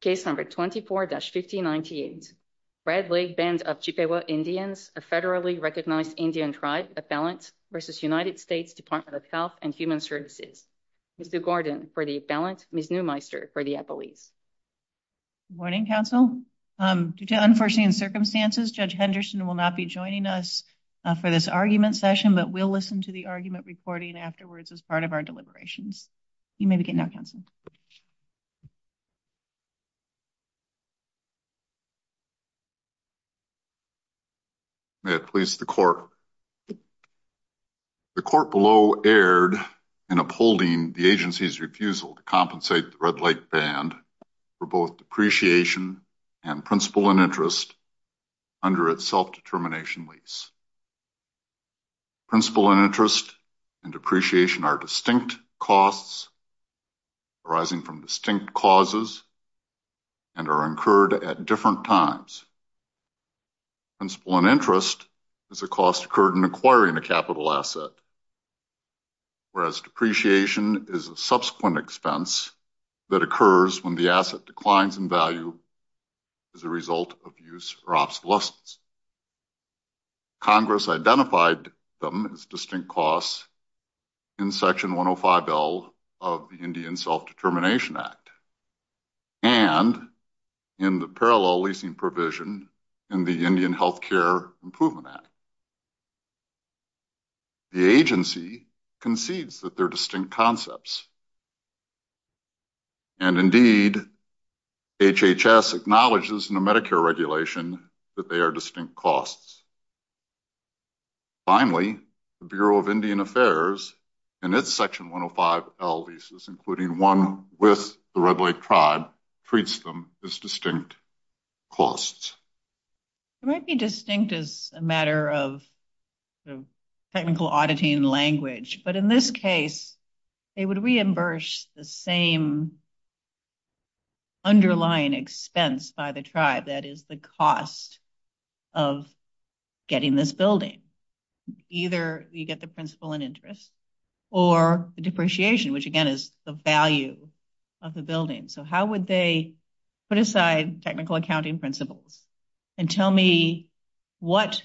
Case number 24-1598. Red Lake Band of Chippewa Indians, a federally recognized Indian tribe appellant versus United States Department of Health and Human Services. Ms. Newgarden for the appellant. Ms. Neumeister for the appellees. Good morning, counsel. Due to unforeseen circumstances, Judge Henderson will not be joining us for this argument session, but we'll listen to the argument recording afterwards as part of our deliberations. You may begin now, counsel. May it please the court. The court below erred in upholding the agency's refusal to compensate the Red Lake Band for both depreciation and principal and interest under its self-determination lease. Principal and interest and depreciation are distinct costs arising from distinct causes and are incurred at different times. Principal and interest is a cost incurred in acquiring a capital asset, whereas depreciation is a subsequent expense that occurs when the asset Congress identified them as distinct costs in Section 105L of the Indian Self-Determination Act and in the parallel leasing provision in the Indian Health Care Improvement Act. The agency concedes that they're distinct concepts, and indeed, HHS acknowledges in the Medicare regulation that they are distinct costs. Finally, the Bureau of Indian Affairs, in its Section 105L leases, including one with the Red Lake Tribe, treats them as distinct costs. It might be distinct as a matter of technical auditing language, but in this case, they would reimburse the same underlying expense by the tribe, that is, the cost of getting this building. Either you get the principal and interest or the depreciation, which again is the value of the building. So how would they put aside technical accounting principles and tell me what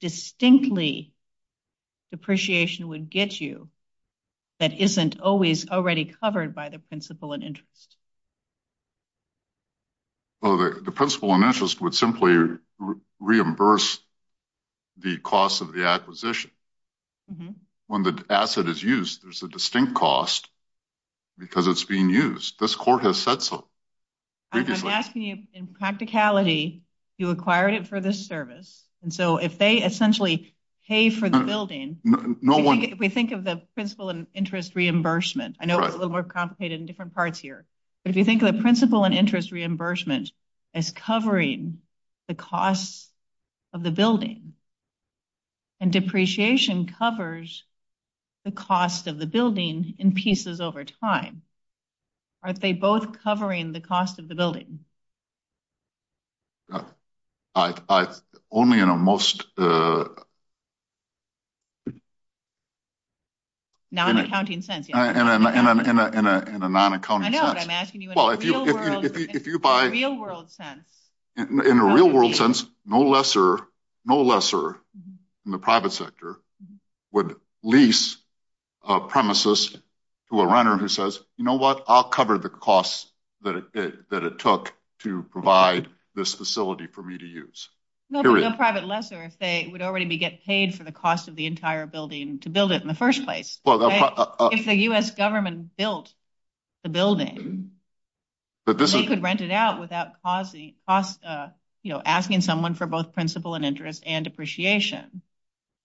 distinctly depreciation would get you that isn't always already covered by the principal and interest? Well, the principal and interest would simply reimburse the cost of the acquisition. When the asset is used, there's a distinct cost because it's being used. This court has said so. I'm asking you in practicality, you acquired it for this service, and so if they essentially pay for the building, if we think of the principal and interest reimbursement, I know it's a little complicated in different parts here, but if you think of the principal and interest reimbursement as covering the costs of the building, and depreciation covers the cost of the building in pieces over time, are they both covering the cost of the building? I only in a most non-accounting sense. In a non-accounting sense. I know, but I'm asking you in a real world sense. In a real world sense, no lesser in the private sector would lease a premises to a renter who says, you know what, I'll cover the costs that it took to provide this facility for me to use. No private lesser if they would already get paid for the cost of the entire building to build it in the first place. If the U.S. government built the building, they could rent it out without asking someone for both principal and interest and depreciation.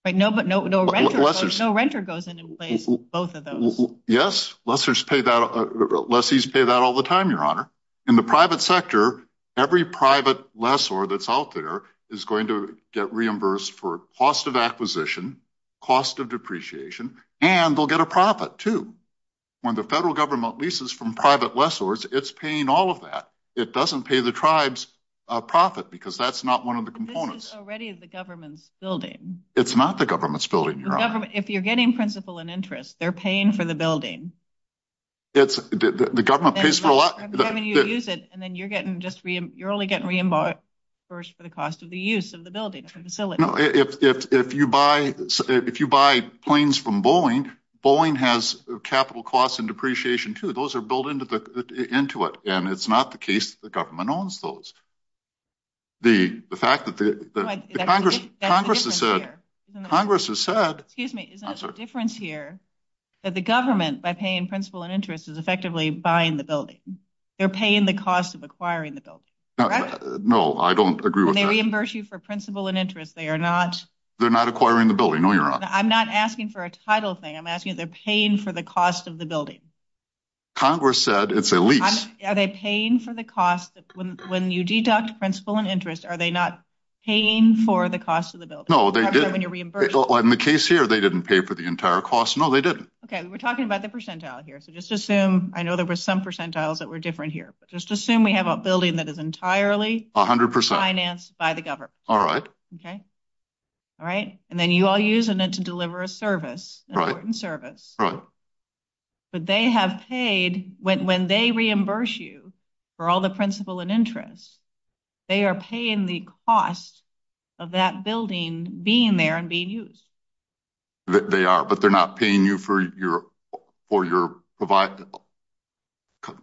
But no renter goes in and pays for both of those. Yes, lessors pay that, lessees pay that all the time, your honor. In the private sector, every private lessor that's out there is going to get reimbursed for cost of acquisition, cost of depreciation, and they'll get a profit too. When the federal government leases from private lessors, it's paying all of that. It doesn't pay the tribes a profit because that's one of the components. But this is already the government's building. It's not the government's building, your honor. If you're getting principal and interest, they're paying for the building. The government pays for a lot. I'm telling you to use it, and then you're only getting reimbursed for the cost of the use of the building, the facility. No, if you buy planes from Boeing, Boeing has capital costs and depreciation too. Those are built into it, and it's not the case that the government owns those. The fact that the Congress has said... Congress has said... Excuse me, isn't there a difference here that the government, by paying principal and interest, is effectively buying the building? They're paying the cost of acquiring the building. No, I don't agree with that. When they reimburse you for principal and interest, they are not... They're not acquiring the building, no, your honor. I'm not asking for a title thing. I'm asking that they're paying for the cost of the building. Congress said it's a paying for the cost. When you deduct principal and interest, are they not paying for the cost of the building? No, they didn't. In the case here, they didn't pay for the entire cost. No, they didn't. Okay, we're talking about the percentile here, so just assume... I know there were some percentiles that were different here, but just assume we have a building that is entirely financed by the government. All right. Okay? All right? And then you all use it to deliver a service, an important service. Right. But they have paid... When they reimburse you for all the principal and interest, they are paying the cost of that building being there and being used. They are, but they're not paying you for your...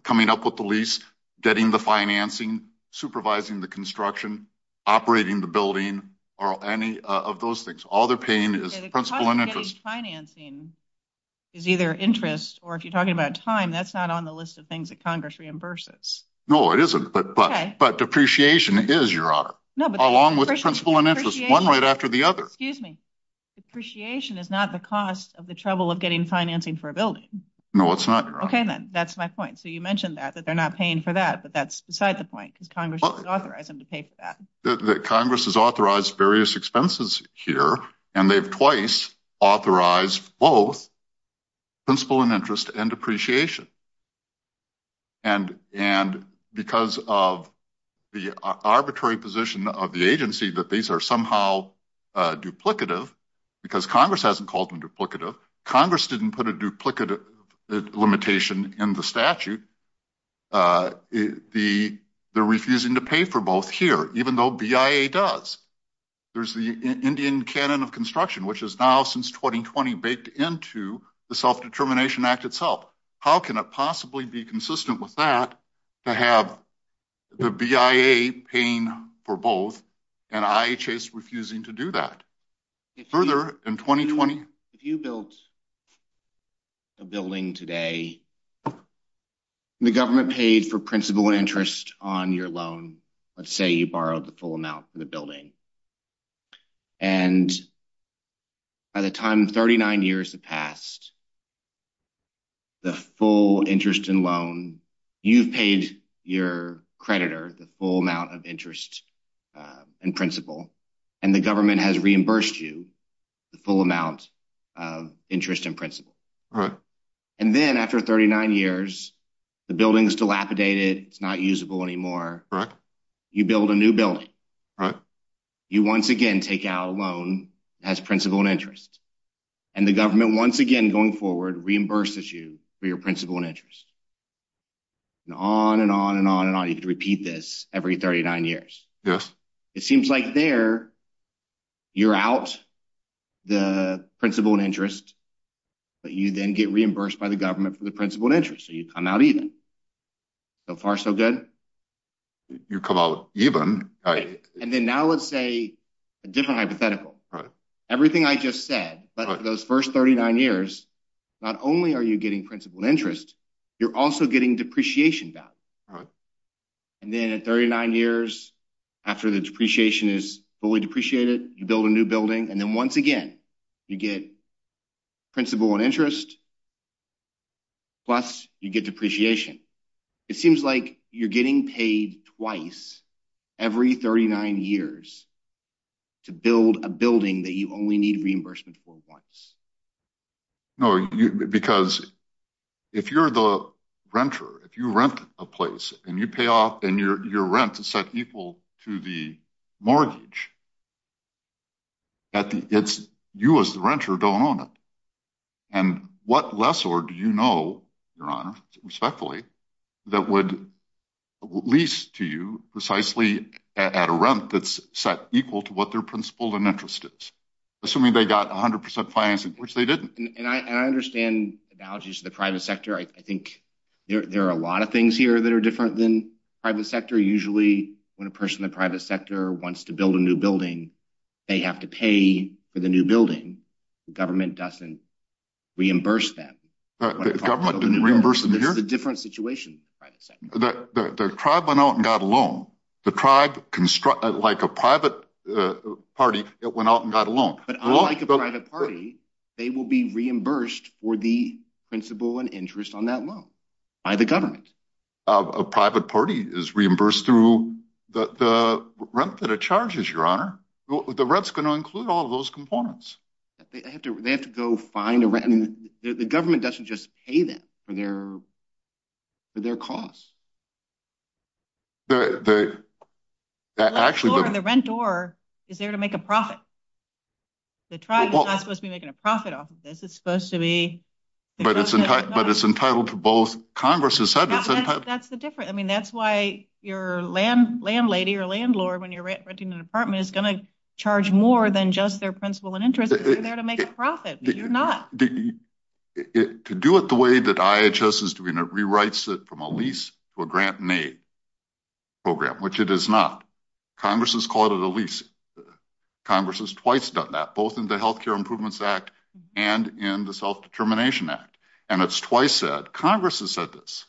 Coming up with the lease, getting the financing, supervising the construction, operating the building, or any of those things. All they're paying is principal and interest. Financing is either interest, or if you're talking about time, that's not on the list of things that Congress reimburses. No, it isn't, but depreciation is, Your Honor, along with principal and interest, one right after the other. Excuse me. Depreciation is not the cost of the trouble of getting financing for a building. No, it's not, Your Honor. Okay, then. That's my point. So you mentioned that, that they're not paying for that, but that's beside the point, because Congress doesn't authorize them to pay for that. Congress has authorized various expenses here, and they've twice authorized both principal and interest and depreciation. And because of the arbitrary position of the agency that these are somehow duplicative, because Congress hasn't called them duplicative, Congress didn't put a duplicative limitation in the statute. They're refusing to pay for both here, even though BIA does. There's the Indian canon of construction, which is now, since 2020, baked into the Self-Determination Act itself. How can it possibly be consistent with that, to have the BIA paying for both, and IHS refusing to do that? Further, in 2020. If you built a building today, the government paid for principal and interest on your loan. Let's say you borrowed the full amount for the building. And by the time 39 years have passed, the full interest and loan, you've paid your creditor the full amount of interest and principal. And the government has reimbursed you the full amount of interest and principal. And then after 39 years, the building is dilapidated, it's not usable anymore. You build a new building. You once again take out a loan that has principal and interest. And the government, once again, going forward, reimburses you for your principal and interest. And on and on and on and on. You repeat this every 39 years. It seems like there, you're out the principal and interest, but you then get reimbursed by the government for the principal and interest. So you come out even. So far, so good. You come out even. And then now let's say a different hypothetical. Everything I just said, but for those first 39 years, not only are you getting principal and interest, you're also getting depreciation back. And then at 39 years, after the depreciation is fully depreciated, you build a new building. And then once again, you get principal and interest, plus you get depreciation. It seems like you're getting paid twice every 39 years to build a building that you only need reimbursement for once. No, because if you're the renter, if you rent a place and you pay off and your rent is set equal to the mortgage, you as the renter don't own it. And what lessor do you know, Your Honor, respectfully, that would lease to you precisely at a rent that's set equal to what their principal and interest is, assuming they got 100% financing, which they didn't. And I understand analogies to the private sector. I think there are a lot of things here that are different than private sector. Usually when a person in the private sector wants to build a new building, they have to pay for the new building. The government doesn't reimburse them. The government didn't reimburse them here? This is a different situation. The tribe went out and got a loan. The tribe, like a private party, went out and got a loan. But unlike a private party, they will be reimbursed for the principal and interest on that loan by the government. A private party is reimbursed through the rent that it charges, Your Honor. The rent's going to include all of those components. They have to go find a rent. The government doesn't just pay them for their costs. The landlord, the renter, is there to make a profit. The tribe is not supposed to be making a profit off of this. It's supposed to be... But it's entitled to both. Congress has said it's entitled... That's the difference. That's why your landlady or landlord, when you're renting an apartment, is going to charge more than just their principal and interest because they're there to make a profit. You're not. To do it the way that IHS is doing it, rewrites it from a lease to a grant and aid program, which it is not. Congress has called it a lease. Congress has twice done that, both in the Health Care Improvements Act and in the Self-Determination Act. And it's twice said, Congress has said this,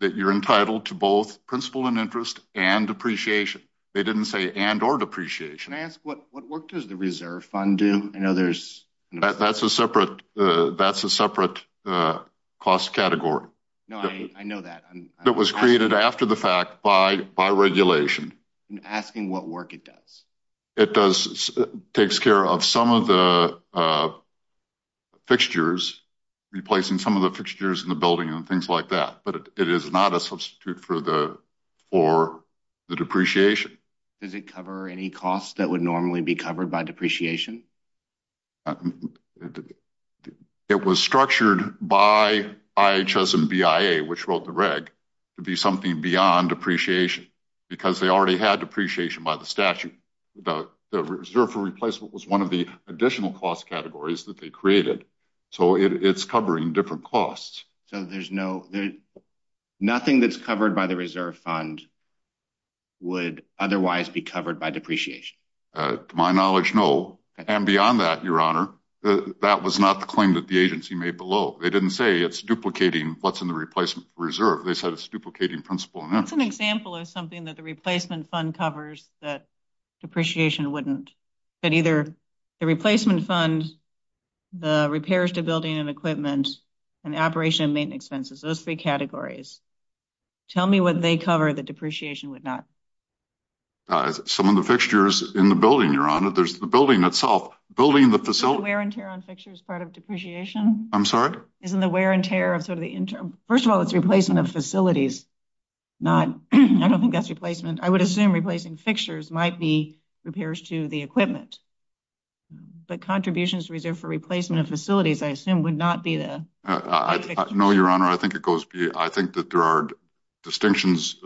that you're entitled to both principal and interest and depreciation. They didn't say and or depreciation. Can I ask, what work does the reserve fund do? I know there's... That's a separate cost category. No, I know that. That was created after the fact by regulation. I'm asking what work it does. It does... takes care of some of the fixtures, replacing some of the fixtures in the building and things like that. But it is not a substitute for the depreciation. Does it cover any costs that would normally be covered by depreciation? It was structured by IHS and BIA, which wrote the reg, to be something beyond depreciation, because they already had depreciation by the statute. The reserve for replacement was one of the additional cost categories that they created. So it's covering different costs. So there's no... Nothing that's covered by the reserve fund would otherwise be covered by depreciation? To my knowledge, no. And beyond that, Your Honor, that was not the claim that the agency made below. They didn't say it's duplicating what's in the replacement reserve. They said it's duplicating principal and interest. That's an example of something that the replacement fund covers that depreciation wouldn't. But either the replacement fund, the repairs to building and equipment, and operation and maintenance expenses, those three categories. Tell me what they cover that depreciation would not. Some of the fixtures in the building, Your Honor. There's the building itself. Building the facility... Isn't the wear and tear on fixtures part of depreciation? I'm sorry? Isn't the wear and tear of sort of the... First of all, it's replacement of facilities. I don't think that's replacement. I would assume replacing fixtures might be repairs to the equipment. But contributions reserved for replacement of facilities, I assume, would not be the... No, Your Honor. I think it goes... I think that there are distinctions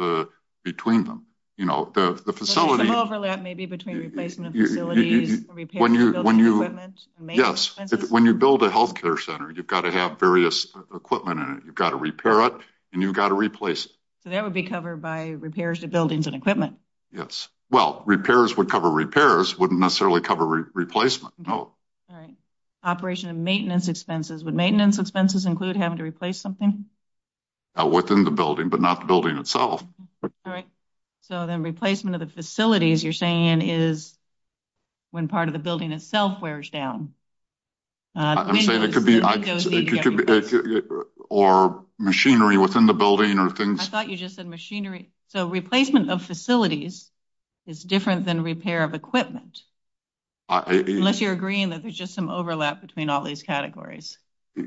between them. You know, the facility... Overlap, maybe, between replacement of facilities, repairs to building and equipment. When you build a health care center, you've got to have various equipment in it. You've got to repair it, and you've got to replace it. So that would be covered by repairs to buildings and equipment. Yes. Well, repairs would cover repairs, wouldn't necessarily cover replacement. No. All right. Operation and maintenance expenses. Would maintenance expenses include having to replace something? Within the building, but not the building itself. All right. So then replacement of the facilities, you're saying, is when part of the building itself wears down. I'm saying it could be... Or machinery within the building or things. I thought you just said machinery. So replacement of facilities is different than repair of equipment. Unless you're agreeing that there's just some overlap between all these categories.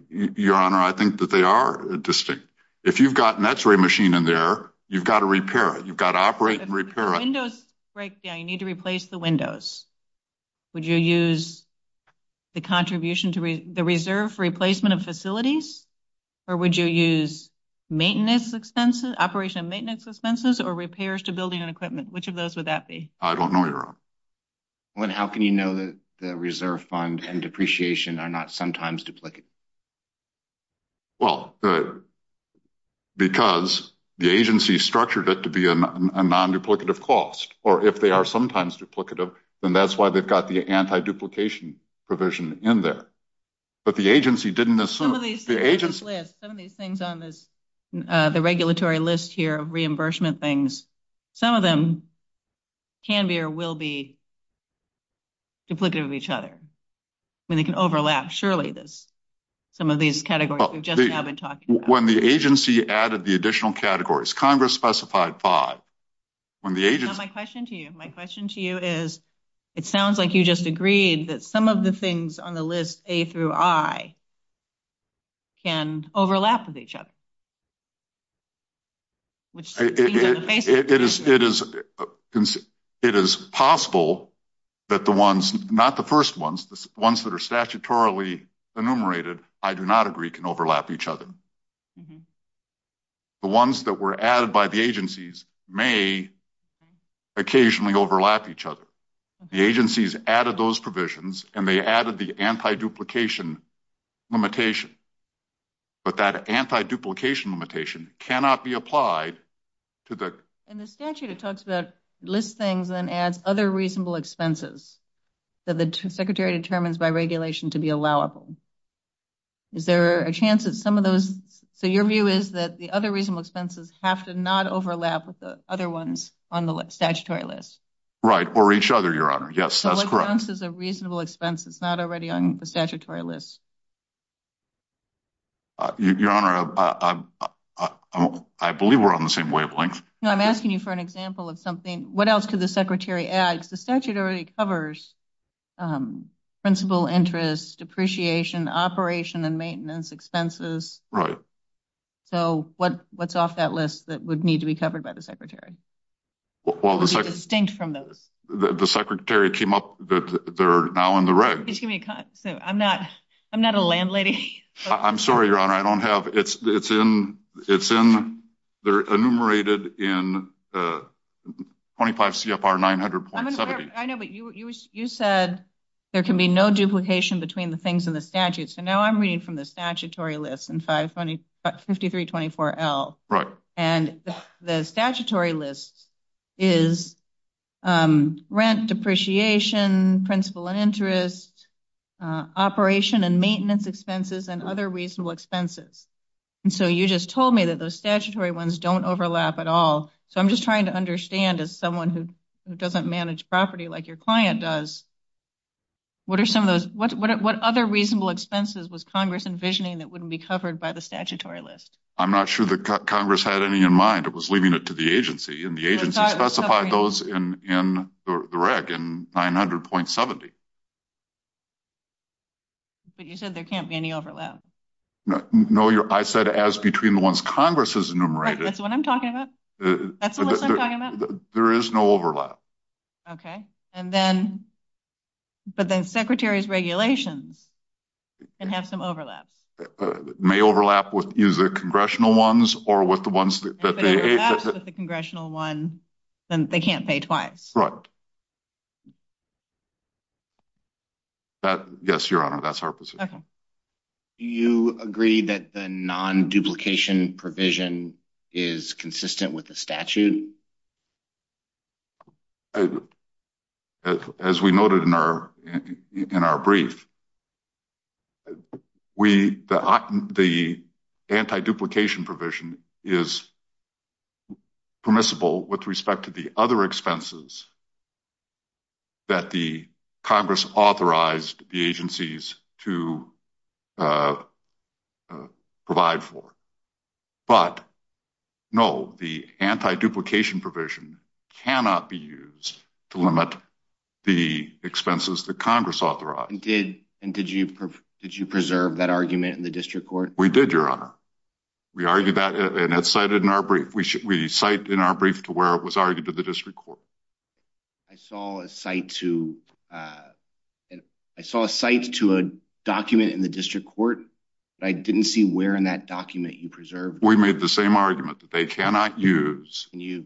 Your Honor, I think that they are distinct. If you've got an x-ray machine in there, you've got to repair it. You've got to operate and repair it. If the windows break down, you need to replace the windows. Would you use the contribution to the reserve for replacement of facilities? Or would you use maintenance expenses, operation and maintenance expenses, or repairs to building and equipment? Which of those would that be? I don't know, Your Honor. How can you know that the reserve fund and depreciation are not sometimes duplicate? Well, because the agency structured it to be a non-duplicative cost. Or if they are sometimes duplicative, then that's why they've got the anti-duplication provision in there. But the agency didn't assume. Some of these things on this, the regulatory list here of reimbursement things, some of them can be or will be duplicative of each other. I mean, they can overlap. There's some of these categories we've just now been talking about. When the agency added the additional categories, Congress specified five. Now, my question to you, my question to you is, it sounds like you just agreed that some of the things on the list, A through I, can overlap with each other. It is possible that the ones, not the first ones, the ones that are statutorily enumerated, I do not agree can overlap each other. The ones that were added by the agencies may occasionally overlap each other. The agencies added those provisions and they added the anti-duplication limitation. But that anti-duplication limitation cannot be applied to the... In the statute, it talks about list things and adds other reasonable expenses that the secretary determines by regulation to be allowable. Is there a chance that some of those... So your view is that the other reasonable expenses have to not overlap with the other ones on the statutory list? Right, or each other, Your Honor. Yes, that's correct. So what counts as a reasonable expense that's not already on the statutory list? Your Honor, I believe we're on the same wavelength. I'm asking you for an example of something. What else could the secretary add? The statute already covers principal interest, depreciation, operation and maintenance expenses. Right. So what's off that list that would need to be covered by the secretary? Well, the secretary came up that they're now in the reg. I'm not a landlady. I'm sorry, Your Honor. I don't have... They're enumerated in 25 CFR 900 points. I know, but you said there can be no duplication between the things in the statute. So now I'm reading from the statutory list in 5324L. And the statutory list is rent, depreciation, principal and interest, operation and maintenance expenses, and other reasonable expenses. And so you just told me that those statutory ones don't overlap at all. So I'm just trying to understand as someone who doesn't manage property like your client does, what are some of those... What other reasonable expenses was Congress envisioning that wouldn't be covered by the statutory list? I'm not sure that Congress had any in mind. It was leaving it to the agency. And the agency specified those in the reg in 900.70. But you said there can't be any overlap. No, I said as between the ones Congress has enumerated. That's what I'm talking about. That's what I'm talking about. There is no overlap. And then... But then Secretary's regulations can have some overlaps. May overlap with either congressional ones or with the ones that... If it overlaps with the congressional one, then they can't pay twice. Right. Yes, Your Honor, that's our position. Okay. You agree that the non-duplication provision is consistent with the statute? As we noted in our brief, the anti-duplication provision is permissible with respect to the other expenses that the Congress authorized the agencies to provide for. But no, the anti-duplication provision cannot be used to limit the expenses that Congress authorized. And did you preserve that argument in the district court? We did, Your Honor. We argued that and it's cited in our brief. We cite in our brief to where it was argued to the district court. I saw a cite to... I saw a cite to a document in the district court, but I didn't see where in that document you preserved. We made the same argument that they cannot use... Can you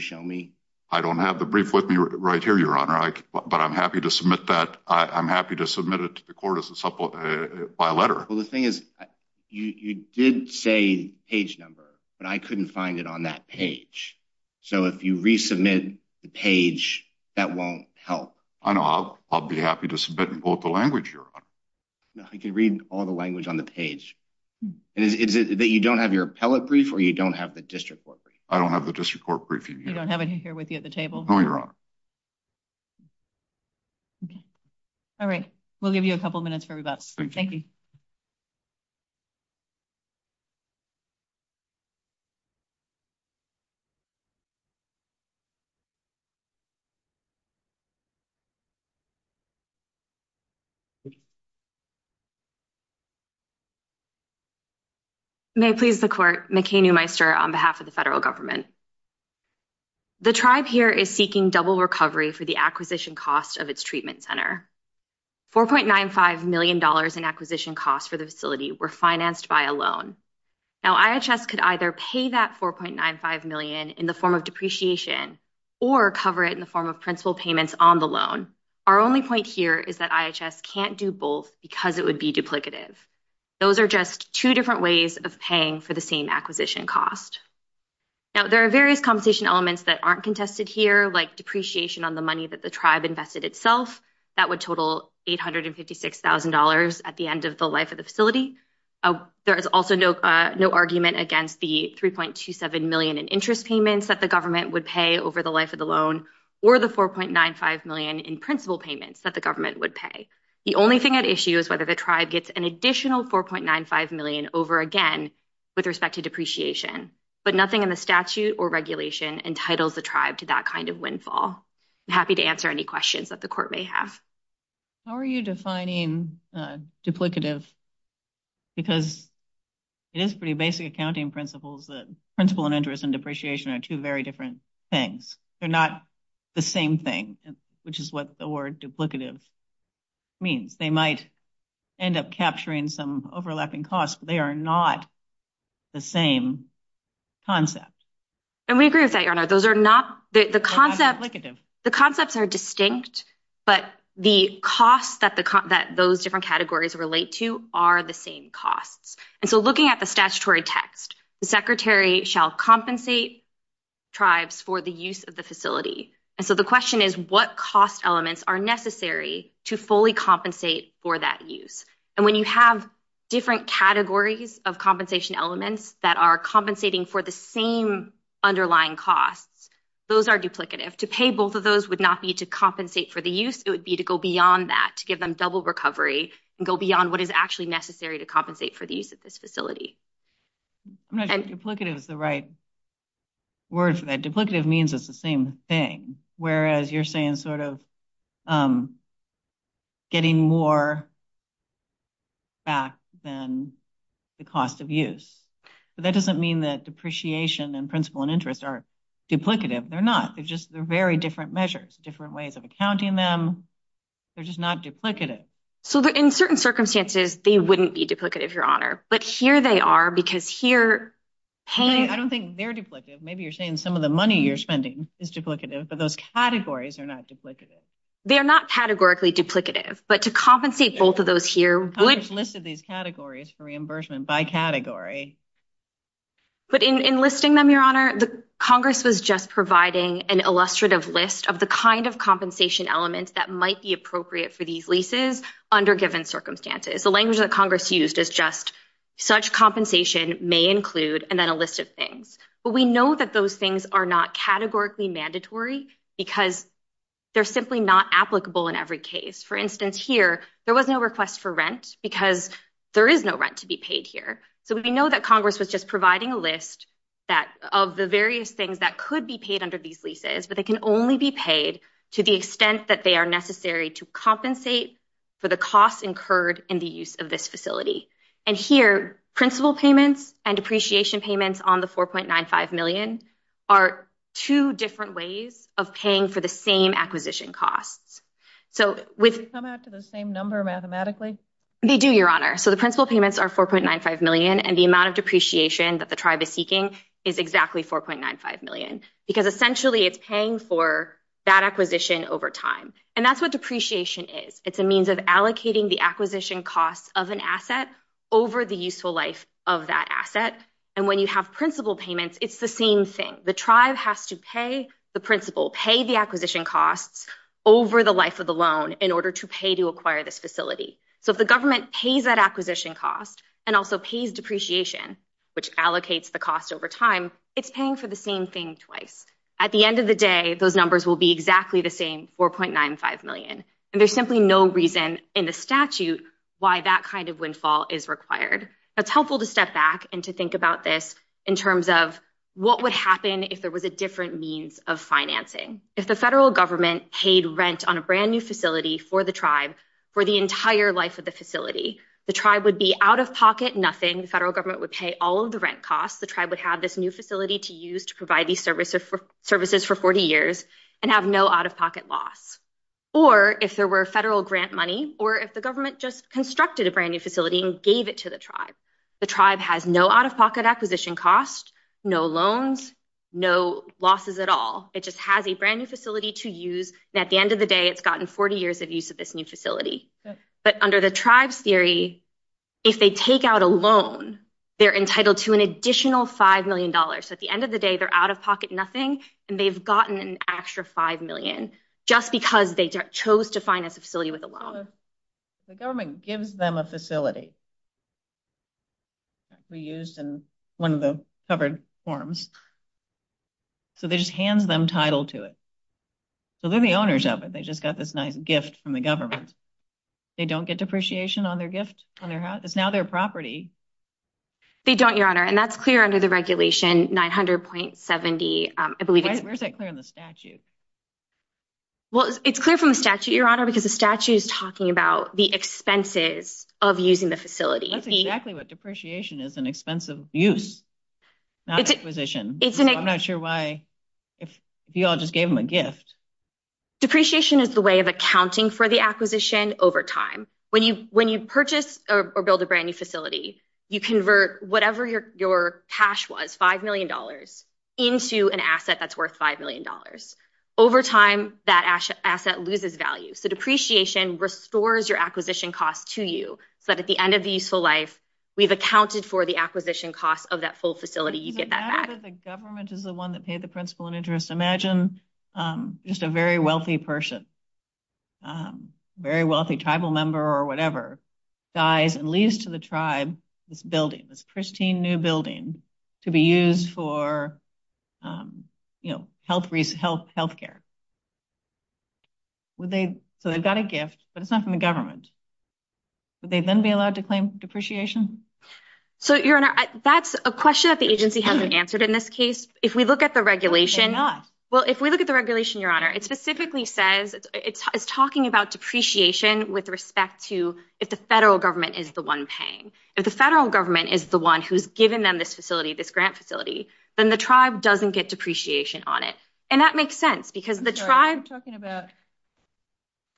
show me? I don't have the brief with me right here, Your Honor. But I'm happy to submit that. I'm happy to submit it to the court as a letter. Well, the thing is, you did say page number, but I couldn't find it on that page. So if you resubmit the page, that won't help. I know. I'll be happy to submit in both the language, Your Honor. No, I can read all the language on the page. And is it that you don't have your appellate brief or you don't have the district court brief? I don't have the district court brief in here. You don't have it here with you at the table? No, Your Honor. All right. We'll give you a couple of minutes for rebuttal. Thank you. May it please the court, McKay Newmeister, on behalf of the federal government. The tribe here is seeking double recovery for the acquisition cost of its treatment center. $4.95 million in acquisition costs for the facility were financed by a loan. Now, IHS could either pay that $4.95 million in the form of depreciation or cover it in the form of principal payments on the loan. Our only point here is that IHS can't do both because it would be duplicative. Those are just two different ways of paying for the same acquisition cost. Now, there are various compensation elements that aren't contested here, like depreciation on the money that the tribe invested itself. That would total $856,000 at the end of the life of the facility. There is also no argument against the $3.27 million in interest payments that the government would pay over the life of the loan or the $4.95 million in principal payments that the government would pay. The only thing at issue is whether the tribe gets an additional $4.95 million over again with respect to depreciation. But nothing in the statute or regulation entitles the tribe to that kind of windfall. I'm happy to answer any questions that the court may have. How are you defining duplicative? Because it is pretty basic accounting principles that principal and interest and depreciation are two very different things. They're not the same thing, which is what the word duplicative means. They might end up capturing some overlapping costs, but they are not the same concept. And we agree with that, Your Honor. Those are not the concept. The concepts are distinct, but the costs that those different categories relate to are the same costs. And so looking at the statutory text, the secretary shall compensate tribes for the use of the facility. And so the question is, what cost elements are necessary to fully compensate for that use? And when you have different categories of compensation elements that are compensating for the same underlying costs, those are duplicative. To pay both of those would not be to compensate for the use. It would be to go beyond that, to give them double recovery and go beyond what is actually necessary to compensate for the use of this facility. I'm not sure duplicative is the right word for that. Duplicative means it's the same thing. Whereas you're saying sort of getting more back than the cost of use. But that doesn't mean that depreciation and principle and interest are duplicative. They're not. They're just they're very different measures, different ways of accounting them. They're just not duplicative. So in certain circumstances, they wouldn't be duplicative, Your Honor. But here they are, because here paying. I don't think they're duplicative. Maybe you're saying some of the money you're spending is duplicative, but those categories are not duplicative. They are not categorically duplicative. But to compensate both of those here. List of these categories for reimbursement by category. But in listing them, Your Honor, the Congress was just providing an illustrative list of the kind of compensation elements that might be appropriate for these leases under given circumstances. The language that Congress used is just such compensation may include and then a list of things. But we know that those things are not categorically mandatory because they're simply not applicable in every case. For instance, here there was no request for rent because there is no rent to be paid here. So we know that Congress was just providing a list that of the various things that could be paid under these leases, but they can only be paid to the extent that they are necessary to compensate for the costs incurred in the use of this facility. And here principal payments and appreciation payments on the 4.95 million are two different ways of paying for the same acquisition costs. So with come out to the same number mathematically, they do, Your Honor. So the principal payments are 4.95 million, and the amount of depreciation that the tribe is seeking is exactly 4.95 million because essentially it's paying for that acquisition over time. And that's what depreciation is. It's a means of allocating the acquisition costs of an asset over the useful life of that asset. And when you have principal payments, it's the same thing. The tribe has to pay the principal, pay the acquisition costs over the life of the loan in order to pay to acquire this facility. So if the government pays that acquisition cost and also pays depreciation, which allocates the cost over time, it's paying for the same thing twice. At the end of the day, those numbers will be exactly the same, 4.95 million. And there's simply no reason in the statute why that kind of windfall is required. It's helpful to step back and to think about this in terms of what would happen if there was a different means of financing. If the federal government paid rent on a brand new facility for the tribe for the entire life of the facility, the tribe would be out of pocket, nothing. The federal government would pay all of the rent costs. The tribe would have this new facility to use to provide these services for 40 years and have no out-of-pocket loss. Or if there were federal grant money or if the government just constructed a brand new facility and gave it to the tribe, the tribe has no out-of-pocket acquisition cost, no loans, no losses at all. It just has a brand new facility to use. And at the end of the day, it's gotten 40 years of use of this new facility. But under the tribe's theory, if they take out a loan, they're entitled to an additional $5 million. So at the end of the day, they're out-of-pocket, nothing. And they've gotten an extra $5 million just because they chose to finance a facility with a loan. The government gives them a facility. Reused in one of the covered forms. So they just hand them title to it. So they're the owners of it. They just got this nice gift from the government. They don't get depreciation on their gift, on their house. It's now their property. They don't, Your Honor. And that's clear under the regulation, 900.70, I believe. Where's that clear in the statute? Well, it's clear from the statute, Your Honor, because the statute is talking about the expenses of using the facility. That's exactly what depreciation is, an expensive use, not acquisition. I'm not sure why, if you all just gave them a gift. Depreciation is the way of accounting for the acquisition over time. When you purchase or build a brand new facility, you convert whatever your cash was, $5 million, into an asset that's worth $5 million. Over time, that asset loses value. So depreciation restores your acquisition costs to you, so that at the end of the useful life, we've accounted for the acquisition costs of that full facility. You get that back. The fact that the government is the one that paid the principal and interest. Imagine just a very wealthy person, very wealthy tribal member or whatever, dies and leaves to the tribe this building, this pristine new building, to be used for health care. So they've got a gift, but it's not from the government. Would they then be allowed to claim depreciation? So, Your Honor, that's a question that the agency hasn't answered in this case. If we look at the regulation- They're not. Well, if we look at the regulation, Your Honor, it specifically says, it's talking about depreciation with respect to if the federal government is the one paying. If the federal government is the one who's given them this facility, this grant facility, then the tribe doesn't get depreciation on it. And that makes sense because the tribe- I'm sorry, you're talking about-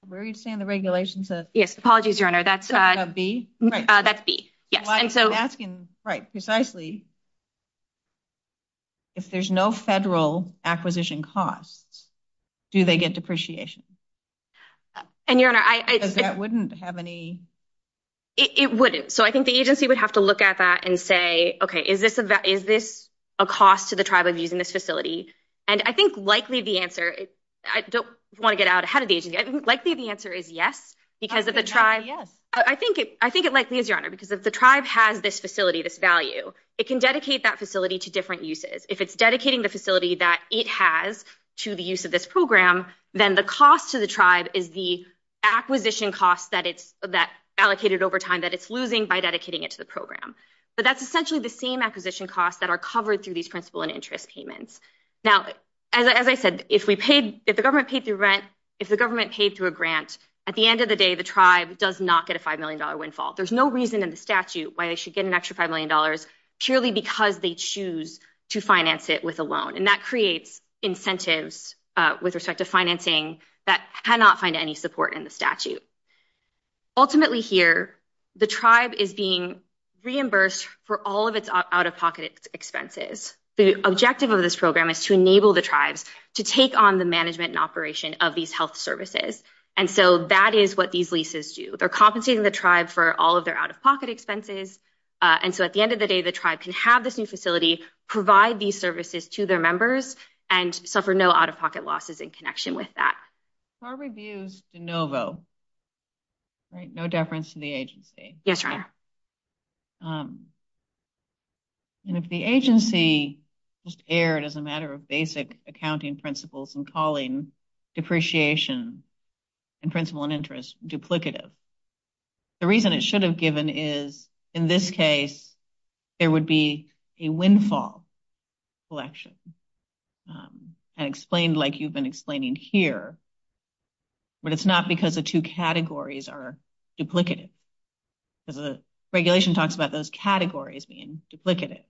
Where are you saying the regulation says? Yes, apologies, Your Honor. That's- B? That's B, yes. I'm asking, right, precisely, if there's no federal acquisition costs, do they get depreciation? And Your Honor, I- Because that wouldn't have any- It wouldn't. So I think the agency would have to look at that and say, okay, is this a cost to the tribe of using this facility? And I think likely the answer- I don't want to get out ahead of the agency. Likely the answer is yes, because of the tribe- I think it likely is, Your Honor, because if the tribe has this facility, this value, it can dedicate that facility to different uses. If it's dedicating the facility that it has to the use of this program, then the cost to the tribe is the acquisition costs that it's- by dedicating it to the program. But that's essentially the same acquisition costs that are covered through these principal and interest payments. Now, as I said, if we paid- if the government paid through rent, if the government paid through a grant, at the end of the day, the tribe does not get a $5 million windfall. There's no reason in the statute why they should get an extra $5 million purely because they choose to finance it with a loan. And that creates incentives with respect to financing that cannot find any support in the statute. Ultimately here, the tribe is being reimbursed for all of its out-of-pocket expenses. The objective of this program is to enable the tribes to take on the management and operation of these health services. And so that is what these leases do. They're compensating the tribe for all of their out-of-pocket expenses. And so at the end of the day, the tribe can have this new facility, provide these services to their members, and suffer no out-of-pocket losses in connection with that. Our review's de novo, right? No deference to the agency. Yes, Your Honor. And if the agency just erred as a matter of basic accounting principles and calling depreciation and principle and interest duplicative, the reason it should have given is, in this case, there would be a windfall collection. And explained like you've been explaining here, but it's not because the two categories are duplicative. Because the regulation talks about those categories being duplicative.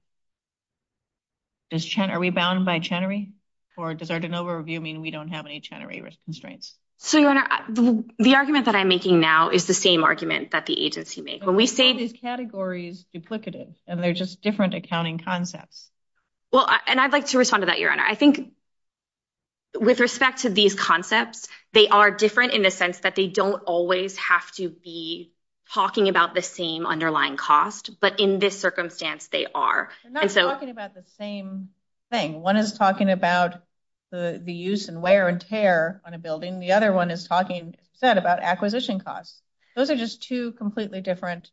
Are we bound by Chenery? Or does our de novo review mean we don't have any Chenery constraints? So, Your Honor, the argument that I'm making now is the same argument that the agency made. When we say these categories are duplicative and they're just different accounting concepts. Well, and I'd like to respond to that, Your Honor. I think with respect to these concepts, they are different in the sense that they don't always have to be talking about the same underlying cost. But in this circumstance, they are. They're not talking about the same thing. One is talking about the use and wear and tear on a building. The other one is talking, as you said, about acquisition costs. Those are just two completely different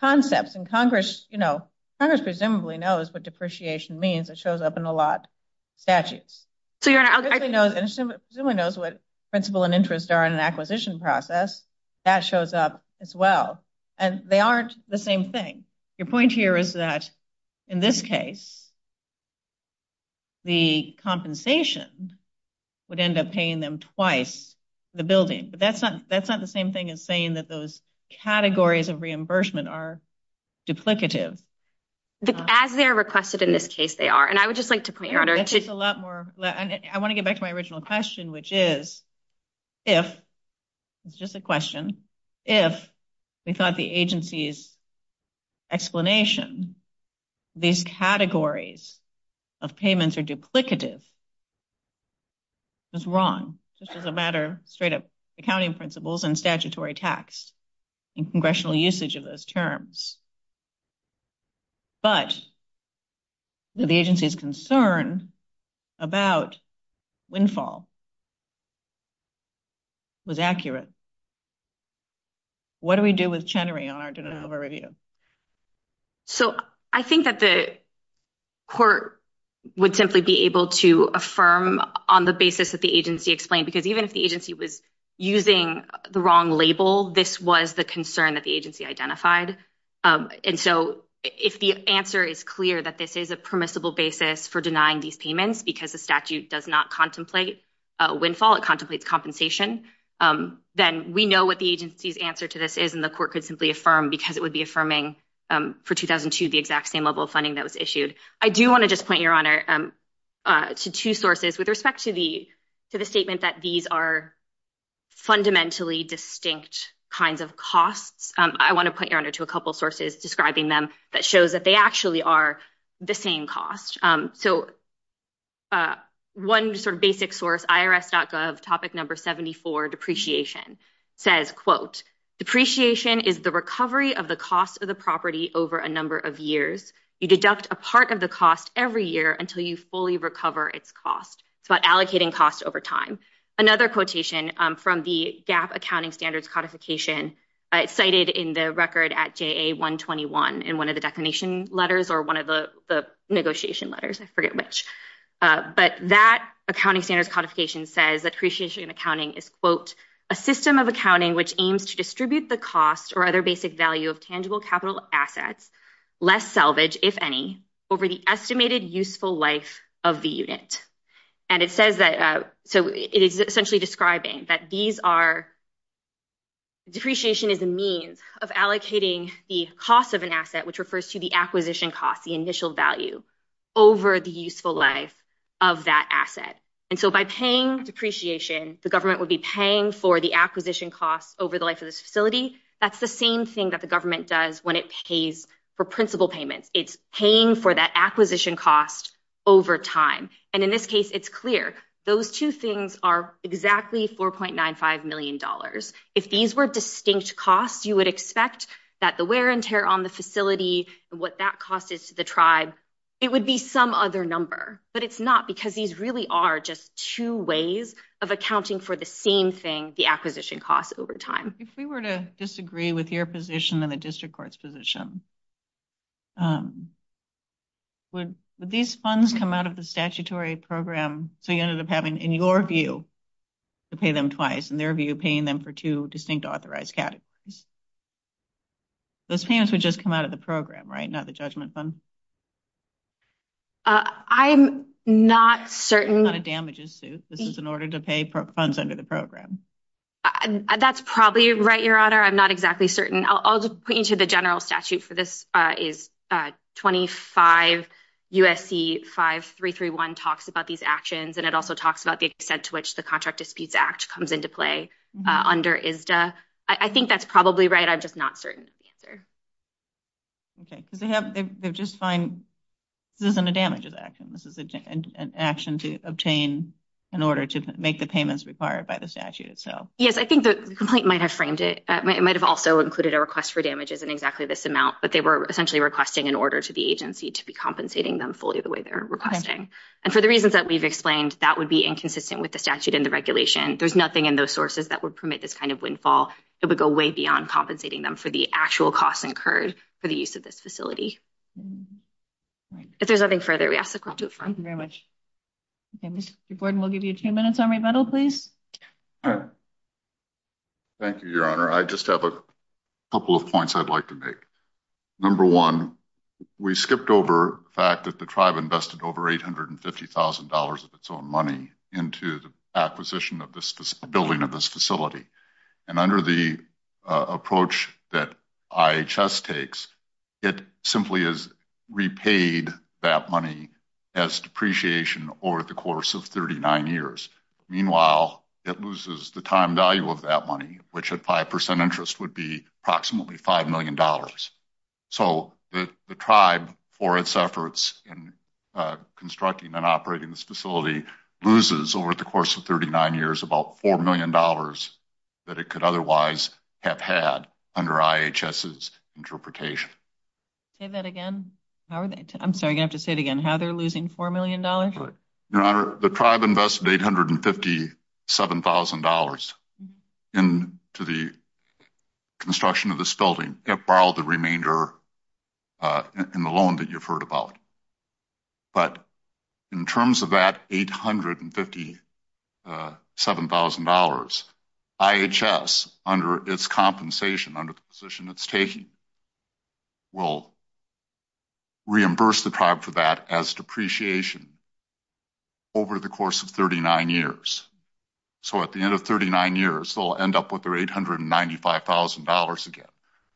concepts. And Congress presumably knows what depreciation means. It shows up in a lot of statutes. So, Your Honor. It presumably knows what principal and interest are in an acquisition process. That shows up as well. And they aren't the same thing. Your point here is that in this case, the compensation would end up paying them twice the building. But that's not the same thing as saying that those categories of reimbursement are duplicative. As they're requested, in this case, they are. And I would just like to point, Your Honor. That's just a lot more. I want to get back to my original question, which is, if, it's just a question, if we thought the agency's explanation, these categories of payments are duplicative, it's wrong, just as a matter of straight up accounting principles and statutory tax and congressional usage of those terms. But the agency's concern about windfall was accurate. What do we do with Chenery, Your Honor? Do we have a review? So, I think that the court would simply be able to affirm on the basis that the agency explained. Because even if the agency was using the wrong label, this was the concern that the agency identified. And so, if the answer is clear that this is a permissible basis for denying these payments, because the statute does not contemplate windfall, it contemplates compensation, then we know what the agency's answer to this is. And the court could simply affirm, because it would be affirming for 2002, the exact same level of funding that was issued. I do want to just point, Your Honor, to two sources with respect to the statement that these are fundamentally distinct kinds of costs. I want to point, Your Honor, to a couple of sources describing them that shows that they actually are the same cost. So, one sort of basic source, IRS.gov, topic number 74, depreciation, says, quote, depreciation is the recovery of the cost of the property over a number of years. You deduct a part of the cost every year until you fully recover its cost. It's about allocating costs over time. Another quotation from the GAP accounting standards codification cited in the record at JA-121 in one of the declination letters or one of the negotiation letters, I forget which. But that accounting standards codification says that depreciation accounting is, quote, a system of accounting which aims to distribute the cost or other basic value of tangible capital assets, less salvage, if any, over the estimated useful life of the unit. And it says that, so it is essentially describing that these are depreciation is a means of allocating the cost of an asset, which refers to the acquisition costs, the initial value over the useful life of that asset. And so by paying depreciation, the government would be paying for the acquisition costs over the life of this facility. That's the same thing that the government does when it pays for principal payments. It's paying for that acquisition cost over time. And in this case, it's clear. Those two things are exactly $4.95 million. If these were distinct costs, you would expect that the wear and tear on the facility and what that cost is to the tribe, it would be some other number, but it's not because these really are just two ways of accounting for the same thing, the acquisition costs over time. If we were to disagree with your position and the district court's position, would these funds come out of the statutory program so you ended up having, in your view, to pay them twice, in their view, paying them for two distinct authorized categories. Those payments would just come out of the program, right? Not the judgment fund. I'm not certain. A lot of damages, Sue. This is in order to pay funds under the program. That's probably right, Your Honor. I'm not exactly certain. I'll just put you to the general statute for this is 25 USC 5331 talks about these actions, and it also talks about the extent to which the Contract Disputes Act comes into play under ISDA. I think that's probably right. I'm just not certain of the answer. Okay, because they just find this isn't a damages action. This is an action to obtain in order to make the payments required by the statute itself. Yes, I think the complaint might have framed it. It might have also included a request for damages in exactly this amount, but they were essentially requesting an order to the agency to be compensating them fully the way they're requesting. And for the reasons that we've explained, that would be inconsistent with the statute and the regulation. There's nothing in those sources that would permit this kind of windfall. It would go way beyond compensating them for the actual costs incurred for the use of this facility. If there's nothing further, we ask the court to affirm. Thank you very much. Okay, Mr. Gordon, we'll give you two minutes on rebuttal, please. All right. Thank you, Your Honor. I just have a couple of points I'd like to make. Number one, we skipped over the fact that the tribe invested over $850,000 of its own money into the acquisition of this building of this facility. And under the approach that IHS takes, it simply has repaid that money as depreciation over the course of 39 years. Meanwhile, it loses the time value of that money, which at 5% interest would be approximately $5 million. So the tribe, for its efforts in constructing and operating this facility, loses over the course of 39 years, about $4 million that it could otherwise have had under IHS's interpretation. Say that again. I'm sorry, you have to say it again. How they're losing $4 million? Your Honor, the tribe invested $857,000 into the construction of this building. It borrowed the remainder in the loan that you've heard about. But in terms of that $857,000, IHS, under its compensation, under the position it's taking, will reimburse the tribe for that as depreciation over the course of 39 years. So at the end of 39 years, they'll end up with their $895,000 again.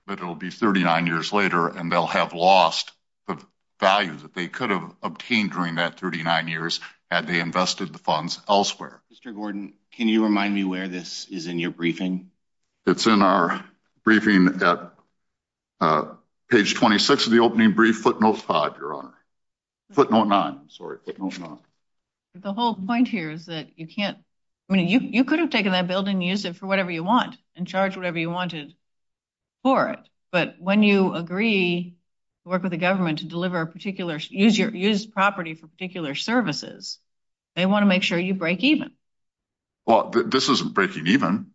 But it'll be 39 years later, and they'll have lost the value that they could have obtained during that 39 years had they invested the funds elsewhere. Mr. Gordon, can you remind me where this is in your briefing? It's in our briefing at page 26 of the opening brief, footnote five, Your Honor. Footnote nine, I'm sorry, footnote nine. The whole point here is that you can't, I mean, you could have taken that building and used it for whatever you want and charged whatever you wanted. For it. But when you agree to work with the government to deliver a particular, use property for particular services, they want to make sure you break even. Well, this isn't breaking even.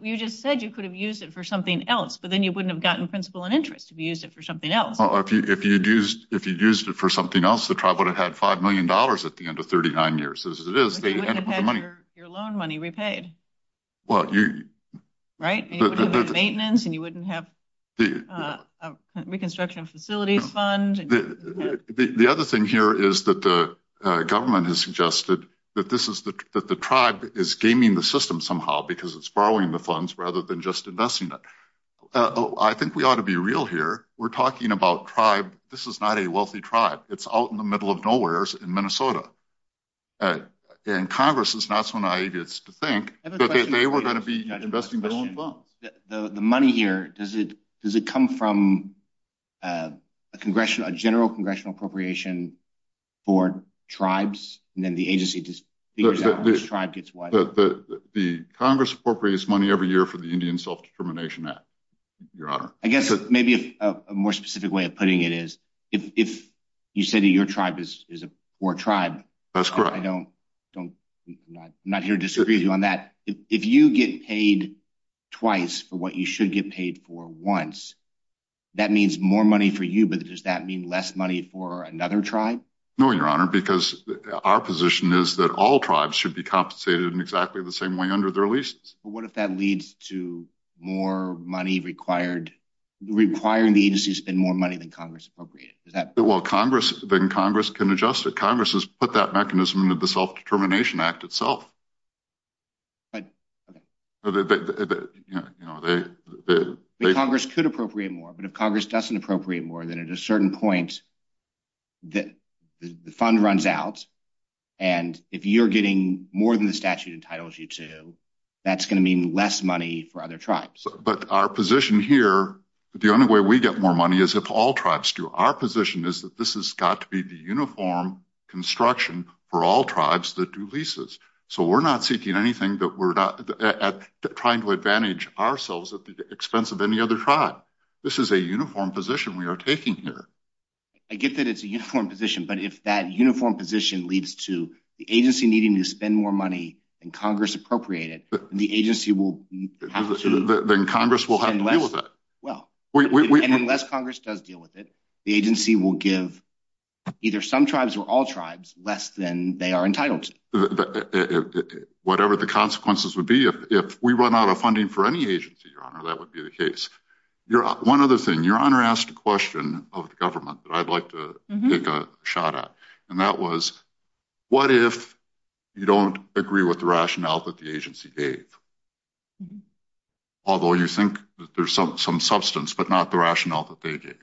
You just said you could have used it for something else, but then you wouldn't have gotten principle and interest if you used it for something else. If you'd used it for something else, the tribe would have had $5 million at the end of 39 years. As it is, they end up with the money. Your loan money repaid. Well, you... And you wouldn't have maintenance and you wouldn't have a reconstruction facilities fund. The other thing here is that the government has suggested that the tribe is gaming the system somehow because it's borrowing the funds rather than just investing it. I think we ought to be real here. We're talking about tribe. This is not a wealthy tribe. It's out in the middle of nowhere in Minnesota. And Congress is not so naive as to think that they were going to be investing their own funds. The money here, does it come from a general congressional appropriation for tribes? And then the agency just figures out which tribe gets what? The Congress appropriates money every year for the Indian Self-Determination Act, Your Honor. I guess maybe a more specific way of putting it is if you say that your tribe is a poor tribe... That's correct. I'm not here to disagree with you on that. If you get paid twice for what you should get paid for once, that means more money for you, but does that mean less money for another tribe? No, Your Honor, because our position is that all tribes should be compensated in exactly the same way under their leases. But what if that leads to more money required, requiring the agency to spend more money than Congress appropriated? Is that... Well, Congress... Then Congress can adjust it. Congress has put that mechanism into the Self-Determination Act itself. Congress could appropriate more, but if Congress doesn't appropriate more, then at a certain point, the fund runs out. And if you're getting more than the statute entitles you to, that's going to mean less money for other tribes. But our position here, the only way we get more money is if all tribes do. Our position is that this has got to be the uniform construction for all tribes that do leases. So we're not seeking anything that we're not trying to advantage ourselves at the expense of any other tribe. This is a uniform position we are taking here. I get that it's a uniform position, but if that uniform position leads to the agency needing to spend more money than Congress appropriated, the agency will have to... Then Congress will have to deal with it. Well, unless Congress does deal with it, the agency will give either some tribes or all tribes less than they are entitled to. Whatever the consequences would be, if we run out of funding for any agency, Your Honor, that would be the case. One other thing. Your Honor asked a question of the government that I'd like to take a shot at. And that was, what if you don't agree with the rationale that the agency gave? Although you think that there's some substance, but not the rationale that they gave.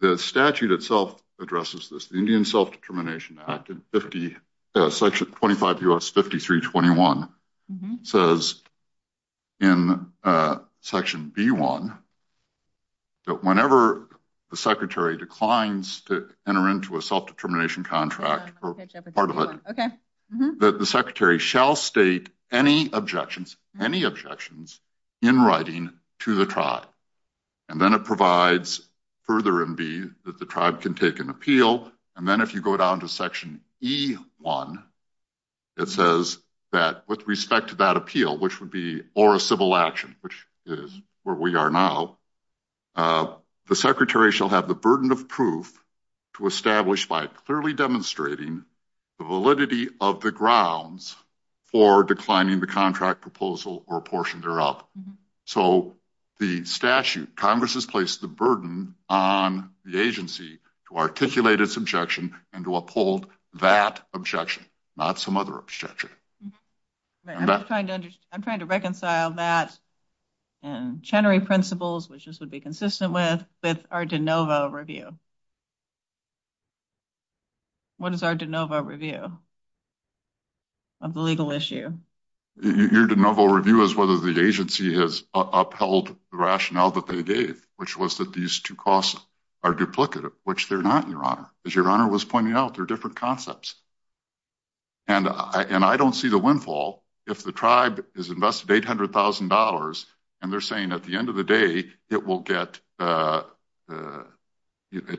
The statute itself addresses this. Indian Self-Determination Act in section 25 U.S. 5321 says in section B1 that whenever the secretary declines to enter into a self-determination contract, that the secretary shall state any objections, any objections in writing to the tribe. And then it provides further in B that the tribe can take an appeal. And then if you go down to section E1, it says that with respect to that appeal, which would be or a civil action, which is where we are now, the secretary shall have the burden of proof to establish by clearly demonstrating the validity of the grounds for declining the contract proposal or portion thereof. So the statute, Congress has placed the burden on the agency to articulate its objection and to uphold that objection, not some other objection. I'm trying to reconcile that and Chenery principles, which this would be consistent with, with our de novo review. What is our de novo review of the legal issue? Your de novo review is whether the agency has upheld the rationale that they gave, which was that these two costs are duplicative, which they're not, your honor, as your honor was pointing out, they're different concepts. And I don't see the windfall if the tribe is invested $800,000 and they're saying at the end of the day, it will get, it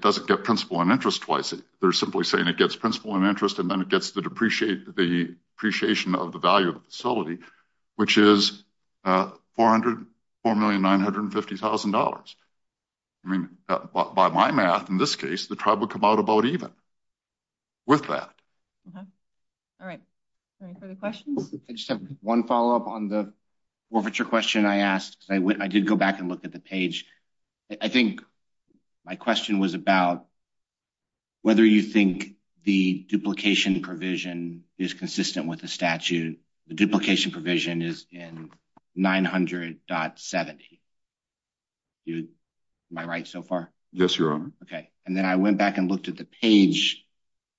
doesn't get principle and interest twice. They're simply saying it gets principle and interest and then it gets the depreciate, the appreciation of the value of the facility, which is $404,950,000. I mean, by my math, in this case, the tribe would come out about even with that. All right. Any further questions? I just have one follow up on the forfeiture question I asked. I did go back and look at the page. I think my question was about whether you think the duplication provision is consistent with the statute, the duplication provision is in 900.70. Am I right so far? Yes, your honor. Okay. And then I went back and looked at the page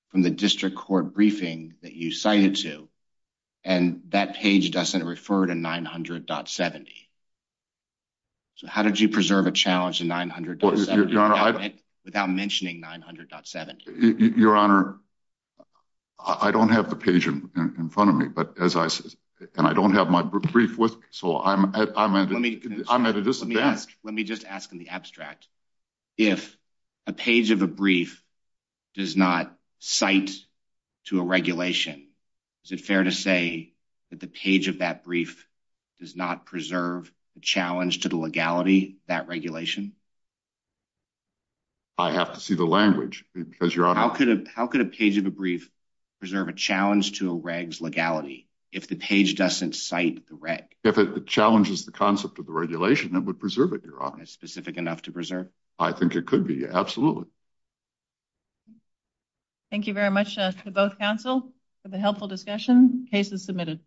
from the district court briefing that you cited to, and that page doesn't refer to 900.70. So how did you preserve a challenge in 900.70 without mentioning 900.70? Your honor, I don't have the page in front of me, and I don't have my brief with me, so I'm at a disadvantage. Let me just ask in the abstract, if a page of a brief does not cite to a regulation, is it fair to say that the page of that brief does not preserve the challenge to the legality of that regulation? I have to see the language. How could a page of a brief preserve a challenge to a reg's legality if the page doesn't cite the reg? If it challenges the concept of the regulation, it would preserve it, your honor. And it's specific enough to preserve? I think it could be, absolutely. Thank you very much to both counsel for the helpful discussion. Case is submitted.